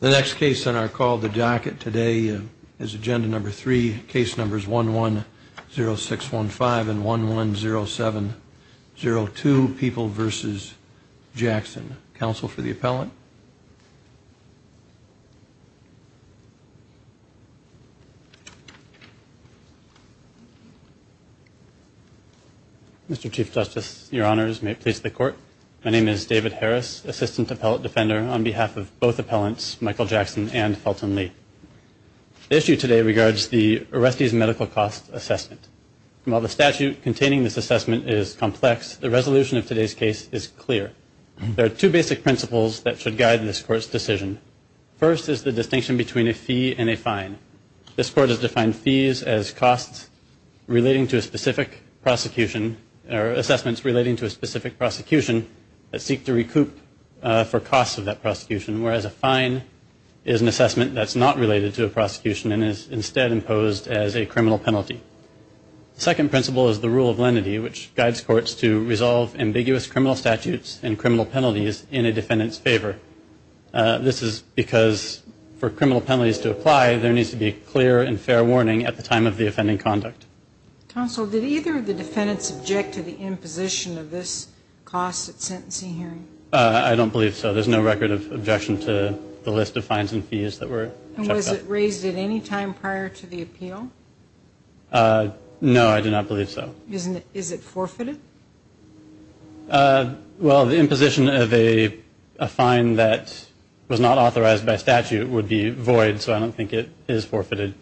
The next case on our call to jacket today is agenda number three, case numbers 110615 and 110702, People v. Jackson. Counsel for the appellant. Mr. Chief Justice, Your Honors, may it please the Court. My name is David Harris, Assistant Appellate Defender, on behalf of both appellants, Michael Jackson and Felton Lee. The issue today regards the arrestee's medical cost assessment. While the statute containing this assessment is complex, the resolution of today's case is clear. There are two basic principles that should guide this Court's decision. First is the distinction between a fee and a fine. This Court has defined fees as costs relating to a specific prosecution or assessments relating to a specific prosecution that seek to recoup for costs of that prosecution, whereas a fine is an assessment that's not related to a prosecution and is instead imposed as a criminal penalty. The second principle is the rule of lenity, which guides courts to resolve ambiguous criminal statutes and criminal penalties in a defendant's favor. This is because for criminal penalties to apply, there needs to be clear and fair warning at the time of the offending conduct. Counsel, did either of the defendants object to the imposition of this cost at sentencing hearing? I don't believe so. There's no record of objection to the list of fines and fees that were checked out. And was it raised at any time prior to the appeal? No, I do not believe so. Is it forfeited? Well, the imposition of a fine that was not authorized by statute would be void, so I don't think it is forfeited.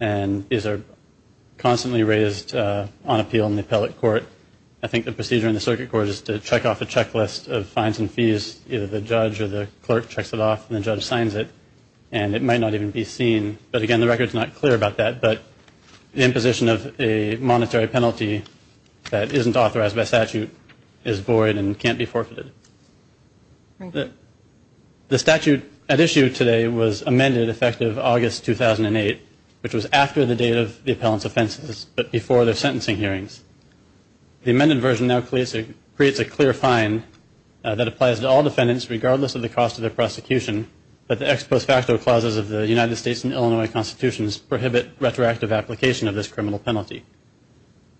And these are constantly raised on appeal in the appellate court. I think the procedure in the circuit court is to check off a checklist of fines and fees. Either the judge or the clerk checks it off and the judge signs it, and it might not even be seen. But again, the record is not clear about that. But the imposition of a monetary penalty that isn't authorized by statute is void and can't be forfeited. The statute at issue today was amended effective August 2008, which was after the date of the appellant's offenses, but before their sentencing hearings. The amended version now creates a clear fine that applies to all defendants regardless of the cost of their prosecution, but the ex post facto clauses of the United States and Illinois Constitutions prohibit retroactive application of this criminal penalty.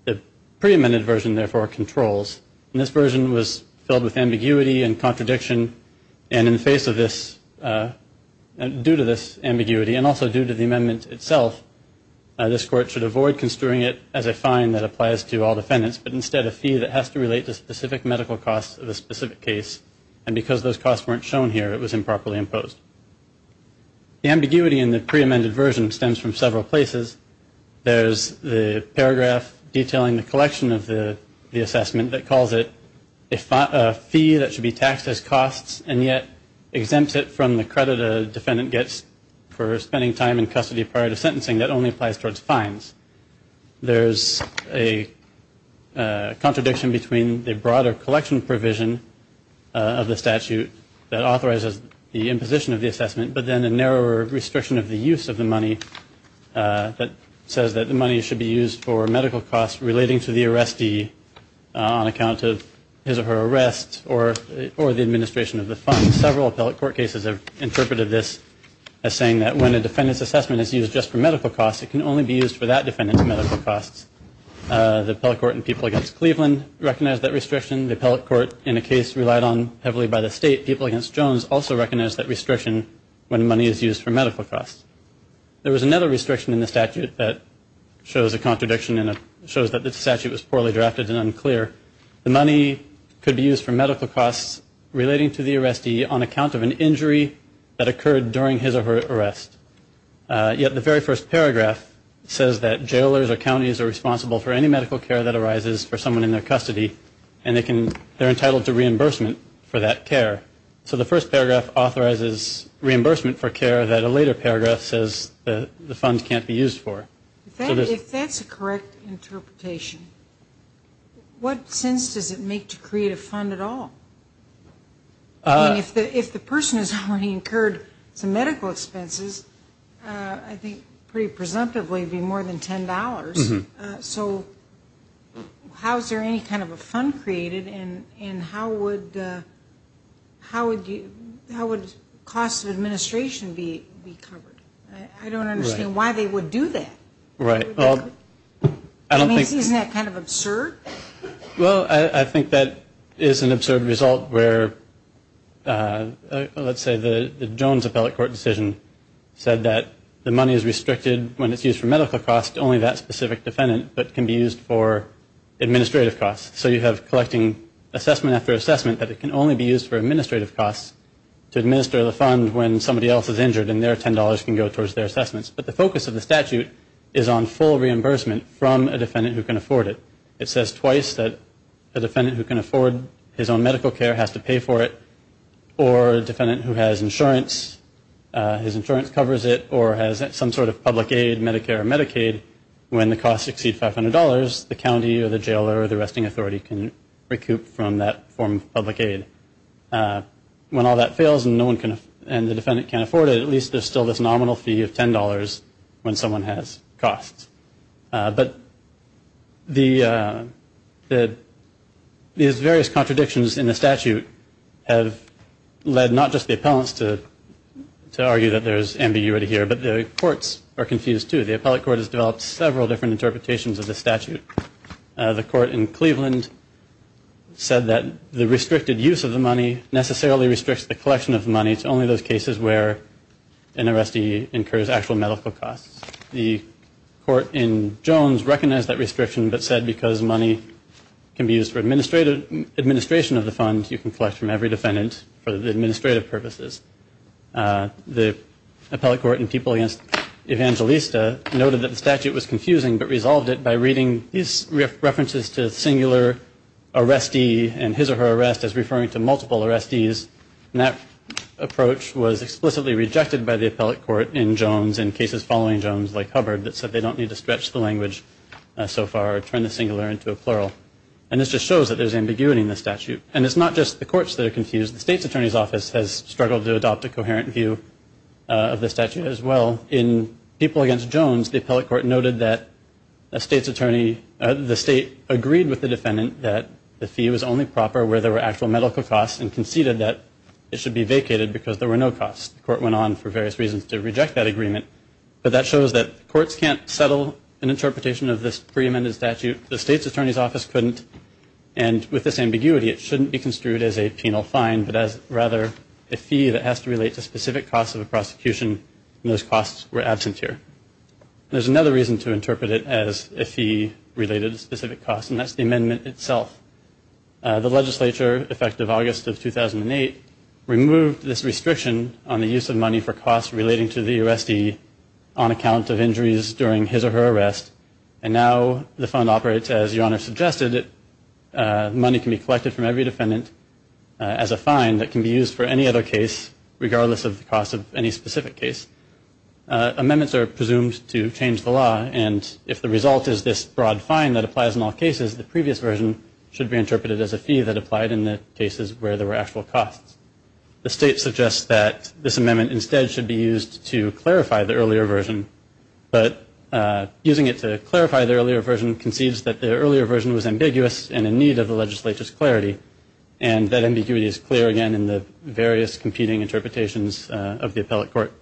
The pre-amended version, therefore, controls. And this version was filled with ambiguity and contradiction. And in the face of this, due to this ambiguity and also due to the amendment itself, this court should avoid construing it as a fine that applies to all defendants, but instead a fee that has to relate to specific medical costs of a specific case. And because those costs weren't shown here, it was improperly imposed. The ambiguity in the pre-amended version stems from several places. There's the paragraph detailing the collection of the assessment that calls it a fee that should be taxed as costs and yet exempts it from the credit a defendant gets for spending time in custody prior to sentencing. That only applies towards fines. There's a contradiction between the broader collection provision of the statute that authorizes the imposition of the assessment, but then a narrower restriction of the use of the money that says that the money should be used for medical costs relating to the arrestee on account of his or her arrest or the administration of the funds. Several appellate court cases have interpreted this as saying that when a defendant's assessment is used just for medical costs, it can only be used for that defendant's medical costs. The appellate court in People v. Cleveland recognized that restriction. The appellate court in a case relied on heavily by the state, People v. Jones, also recognized that restriction when money is used for medical costs. There was another restriction in the statute that shows a contradiction and shows that the statute was poorly drafted and unclear. The money could be used for medical costs relating to the arrestee on account of an injury that occurred during his or her arrest. Yet the very first paragraph says that jailers or counties are responsible for any medical care that arises for someone in their custody, and they're entitled to reimbursement for that care. So the first paragraph authorizes reimbursement for care that a later paragraph says the funds can't be used for. If that's a correct interpretation, what sense does it make to create a fund at all? If the person has already incurred some medical expenses, I think pretty presumptively it would be more than $10. So how is there any kind of a fund created, and how would costs of administration be covered? I don't understand why they would do that. Right. Isn't that kind of absurd? Well, I think that is an absurd result where, let's say, the Jones Appellate Court decision said that the money is restricted when it's used for medical costs to only that specific defendant, but can be used for administrative costs. So you have collecting assessment after assessment that it can only be used for administrative costs to administer the fund when somebody else is injured and their $10 can go towards their assessments. But the focus of the statute is on full reimbursement from a defendant who can afford it. It says twice that a defendant who can afford his own medical care has to pay for it, or a defendant who has insurance, his insurance covers it, or has some sort of public aid, Medicare or Medicaid, when the costs exceed $500, the county or the jailer or the arresting authority can recoup from that form of public aid. When all that fails and the defendant can't afford it, at least there's still this nominal fee of $10 when someone has costs. But these various contradictions in the statute have led not just the appellants to argue that there's ambiguity here, but the courts are confused too. The appellate court has developed several different interpretations of the statute. The court in Cleveland said that the restricted use of the money necessarily restricts the collection of money to only those cases where an arrestee incurs actual medical costs. The court in Jones recognized that restriction but said because money can be used for administration of the fund, you can collect from every defendant for the administrative purposes. The appellate court in People v. Evangelista noted that the statute was confusing but resolved it by reading these references to singular arrestee and his or her arrest as referring to multiple arrestees. And that approach was explicitly rejected by the appellate court in Jones and cases following Jones like Hubbard that said they don't need to stretch the language so far or turn the singular into a plural. And this just shows that there's ambiguity in the statute. And it's not just the courts that are confused. The state's attorney's office has struggled to adopt a coherent view of the statute as well. In People v. Jones, the appellate court noted that the state agreed with the defendant that the fee was only proper where there were actual medical costs and conceded that it should be vacated because there were no costs. The court went on for various reasons to reject that agreement. But that shows that courts can't settle an interpretation of this pre-amended statute. The state's attorney's office couldn't. And with this ambiguity, it shouldn't be construed as a penal fine but as rather a fee that has to relate to specific costs of a prosecution. And those costs were absent here. There's another reason to interpret it as a fee related to specific costs, and that's the amendment itself. The legislature, effective August of 2008, removed this restriction on the use of money for costs relating to the arrestee on account of injuries during his or her arrest. And now the fund operates as Your Honor suggested. Money can be collected from every defendant as a fine that can be used for any other case, regardless of the cost of any specific case. Amendments are presumed to change the law. And if the result is this broad fine that applies in all cases, the previous version should be interpreted as a fee that applied in the cases where there were actual costs. The state suggests that this amendment instead should be used to clarify the earlier version. But using it to clarify the earlier version conceives that the earlier version was ambiguous and in need of the legislature's clarity, and that ambiguity is clear again in the various competing interpretations of the appellate court.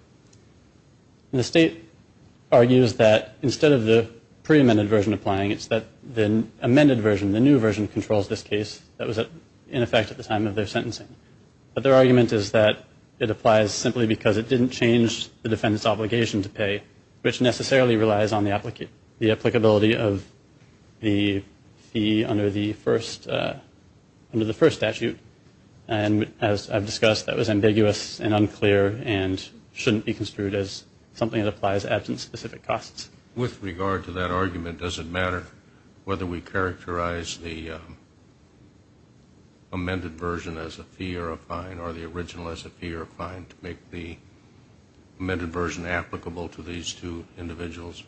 The state argues that instead of the pre-amended version applying, it's that the amended version, the new version, controls this case that was in effect at the time of their sentencing. But their argument is that it applies simply because it didn't change the defendant's obligation to pay, which necessarily relies on the applicability of the fee under the first statute. And as I've discussed, that was ambiguous and unclear and shouldn't be construed as something that applies to absent specific costs. With regard to that argument, does it matter whether we characterize the amended version as a fee or a fine or the original as a fee or a fine to make the amended version applicable to these two individuals?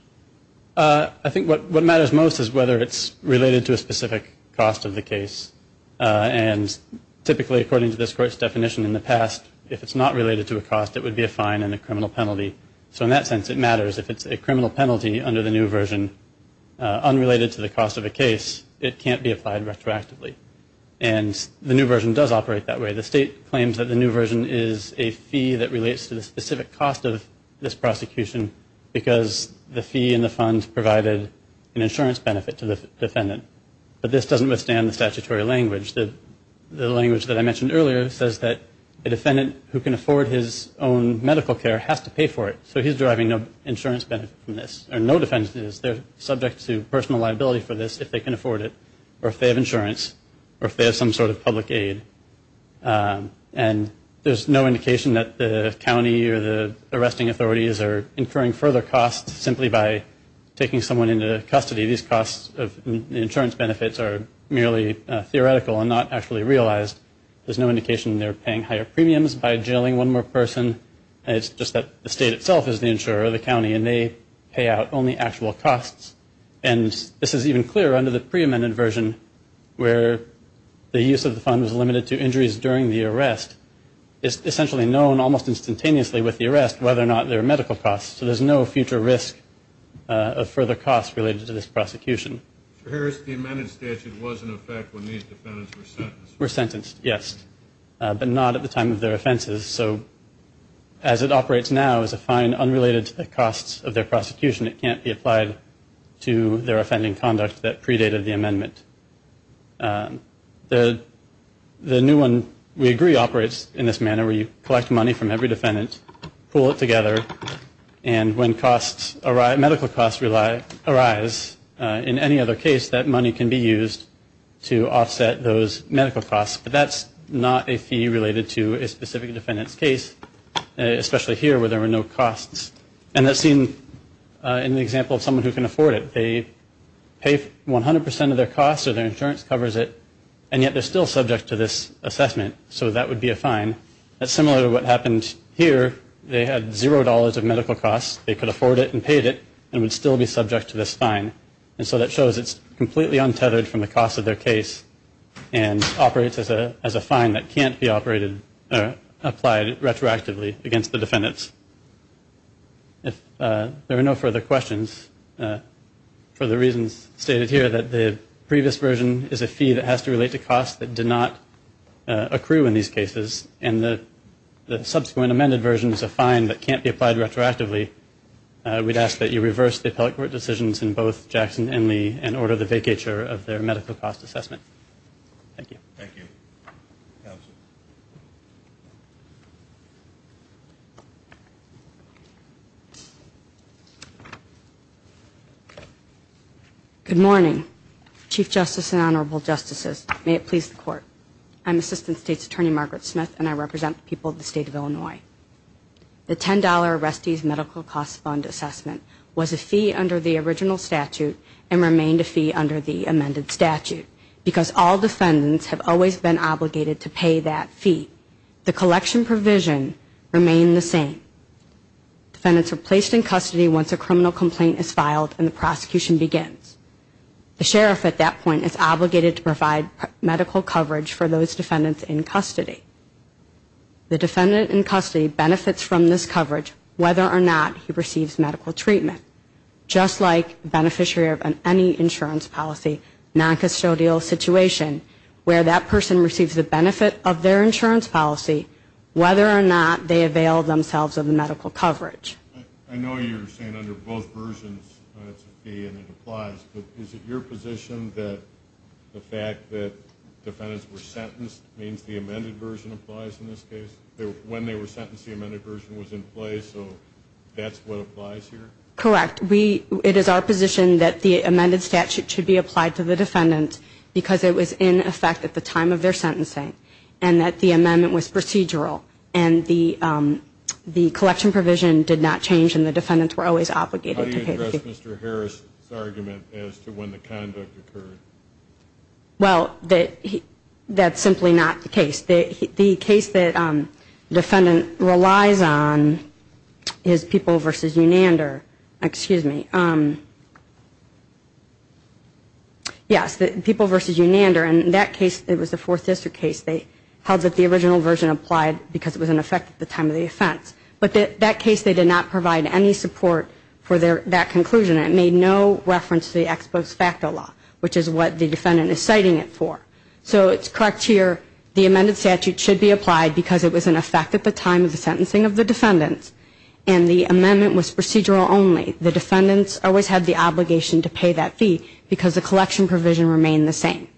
I think what matters most is whether it's related to a specific cost of the case. And typically, according to this Court's definition in the past, if it's not related to a cost, it would be a fine and a criminal penalty. So in that sense, it matters. If it's a criminal penalty under the new version unrelated to the cost of a case, it can't be applied retroactively. And the new version does operate that way. The state claims that the new version is a fee that relates to the specific cost of this prosecution because the fee and the funds provided an insurance benefit to the defendant. But this doesn't withstand the statutory language. The language that I mentioned earlier says that a defendant who can afford his own medical care has to pay for it. So he's deriving no insurance benefit from this. Or no defendant is. They're subject to personal liability for this if they can afford it or if they have insurance or if they have some sort of public aid. And there's no indication that the county or the arresting authorities are incurring further costs simply by taking someone into custody. These costs of insurance benefits are merely theoretical and not actually realized. There's no indication they're paying higher premiums by jailing one more person. It's just that the state itself is the insurer, the county, and they pay out only actual costs. And this is even clearer under the pre-amended version where the use of the fund was limited to injuries during the arrest. It's essentially known almost instantaneously with the arrest whether or not there are medical costs. So there's no future risk of further costs related to this prosecution. For Harris, the amended statute was in effect when these defendants were sentenced. Were sentenced, yes, but not at the time of their offenses. So as it operates now as a fine unrelated to the costs of their prosecution, it can't be applied to their offending conduct that predated the amendment. The new one, we agree, operates in this manner where you collect money from every defendant, pool it together, and when medical costs arise in any other case, that money can be used to offset those medical costs. But that's not a fee related to a specific defendant's case, especially here where there were no costs. And that's seen in the example of someone who can afford it. They pay 100% of their costs or their insurance covers it, and yet they're still subject to this assessment. So that would be a fine. That's similar to what happened here. They had zero dollars of medical costs. They could afford it and paid it and would still be subject to this fine. And so that shows it's completely untethered from the cost of their case and operates as a fine that can't be operated or applied retroactively against the defendants. If there are no further questions, for the reasons stated here, that the previous version is a fee that has to relate to costs that do not accrue in these cases and the subsequent amended version is a fine that can't be applied retroactively, we'd ask that you reverse the appellate court decisions in both Jackson and Lee and order the vacatur of their medical cost assessment. Thank you. Thank you. Counsel. Good morning, Chief Justice and Honorable Justices. May it please the Court. I'm Assistant State's Attorney Margaret Smith, and I represent the people of the State of Illinois. The $10 arrestee's medical cost fund assessment was a fee under the original statute and remained a fee under the amended statute because all defendants have always been obligated to pay that fee. The collection provision remained the same. Defendants are placed in custody once a criminal complaint is filed and the prosecution begins. The sheriff at that point is obligated to provide medical coverage for those defendants in custody. The defendant in custody benefits from this coverage whether or not he receives medical treatment, just like the beneficiary of any insurance policy, noncustodial situation, where that person receives the benefit of their insurance policy, whether or not they avail themselves of the medical coverage. I know you're saying under both versions it's a fee and it applies, but is it your position that the fact that defendants were sentenced means the amended version applies in this case? When they were sentenced, the amended version was in place, so that's what applies here? Correct. It is our position that the amended statute should be applied to the defendant because it was in effect at the time of their sentencing and that the amendment was procedural and the collection provision did not change and the defendants were always obligated to pay the fee. How do you address Mr. Harris' argument as to when the conduct occurred? Well, that's simply not the case. The case that the defendant relies on is People v. Unander. Excuse me. Yes, People v. Unander, and in that case it was a Fourth District case. They held that the original version applied because it was in effect at the time of the offense, but that case they did not provide any support for that conclusion. It made no reference to the ex post facto law, which is what the defendant is citing it for. So it's correct here, the amended statute should be applied because it was in effect at the time of the sentencing of the defendants and the amendment was procedural only. The defendants always had the obligation to pay that fee because the collection provision remained the same.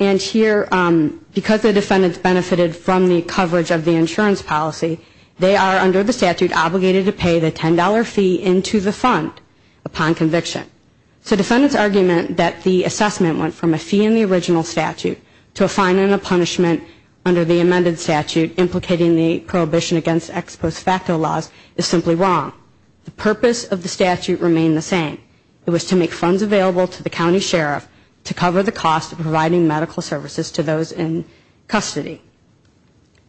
And here, because the defendants benefited from the coverage of the insurance policy, they are under the statute obligated to pay the $10 fee into the fund upon conviction. So defendants argument that the assessment went from a fee in the original statute to a fine and a punishment under the amended statute implicating the prohibition against ex post facto laws is simply wrong. The purpose of the statute remained the same. It was to make funds available to the county sheriff to cover the cost of providing medical services to those in custody.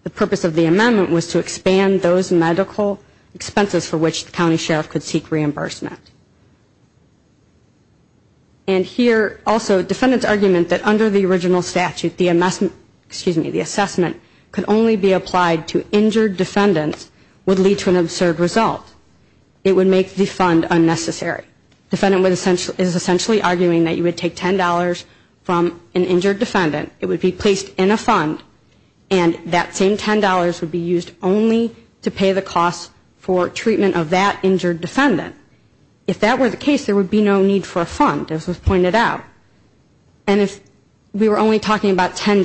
The purpose of the amendment was to expand those medical expenses for which the county sheriff could seek reimbursement. And here also defendants argument that under the original statute, the assessment could only be applied to injured defendants would lead to an absurd result. It would make the fund unnecessary. Defendant is essentially arguing that you would take $10 from an injured defendant, it would be placed in a fund, and that same $10 would be used only to pay the cost for treatment of that injured defendant. If that were the case, there would be no need for a fund, as was pointed out. And if we were only talking about $10,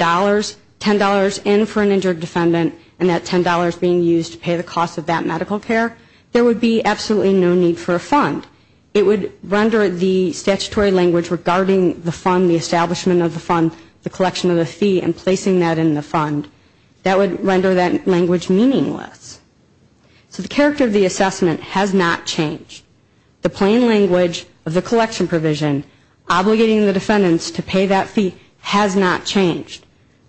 $10 in for an injured defendant, and that $10 being used to pay the cost of that medical care, there would be absolutely no need for a fund. It would render the statutory language regarding the fund, the establishment of the fund, the collection of the fee and placing that in the fund, that would render that language meaningless. So the character of the assessment has not changed. The plain language of the collection provision, obligating the defendants to pay that fee has not changed.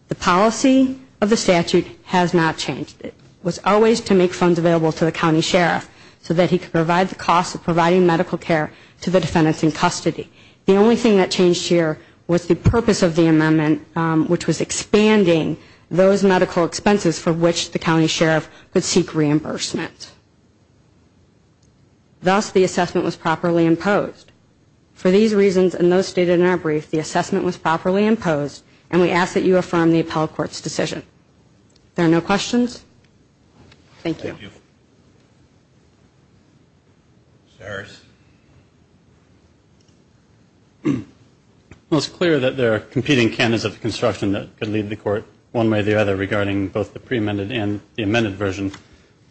The policy of the statute has not changed. It was always to make funds available to the county sheriff so that he could provide the cost of providing medical care to the defendants in custody. The only thing that changed here was the purpose of the amendment, which was expanding those medical expenses for which the county sheriff could seek reimbursement. Thus, the assessment was properly imposed. For these reasons and those stated in our brief, the assessment was properly imposed, and we ask that you affirm the appellate court's decision. There are no questions? Thank you. Thank you. Mr. Harris? Well, it's clear that there are competing canons of construction that could lead the court one way or the other regarding both the pre-amended and the amended version,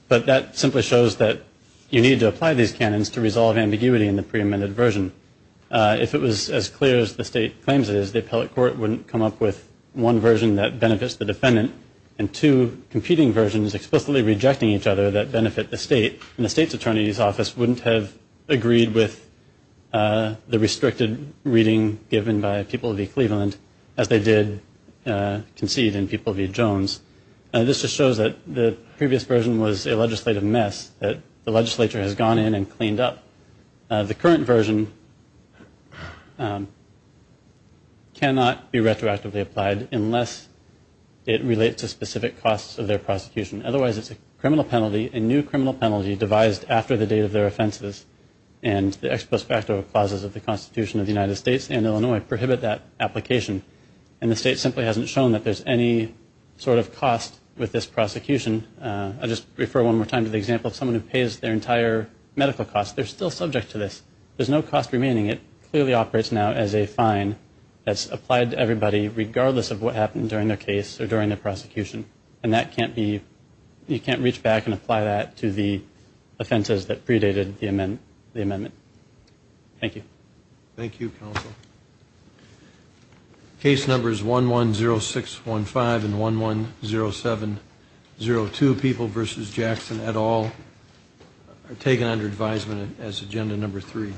but that simply shows that you need to apply these canons to resolve ambiguity in the pre-amended version. If it was as clear as the state claims it is, the appellate court wouldn't come up with one version that benefits the defendant and two competing versions explicitly rejecting each other that benefit the state, and the state's attorney's office wouldn't have agreed with the restricted reading given by People v. Cleveland as they did concede in People v. Jones. This just shows that the previous version was a legislative mess that the legislature has gone in and cleaned up. The current version cannot be retroactively applied unless it relates to specific costs of their prosecution. Otherwise, it's a criminal penalty, a new criminal penalty devised after the date of their offenses, and the ex post facto clauses of the Constitution of the United States and Illinois prohibit that application, and the state simply hasn't shown that there's any sort of cost with this prosecution. I'll just refer one more time to the example of someone who pays their entire medical costs. They're still subject to this. There's no cost remaining. It clearly operates now as a fine that's applied to everybody regardless of what happened during their case or during their prosecution, and you can't reach back and apply that to the offenses that predated the amendment. Thank you. Thank you, counsel. Case numbers 110615 and 110702, People v. Jackson et al., are taken under advisement as Agenda Number 3.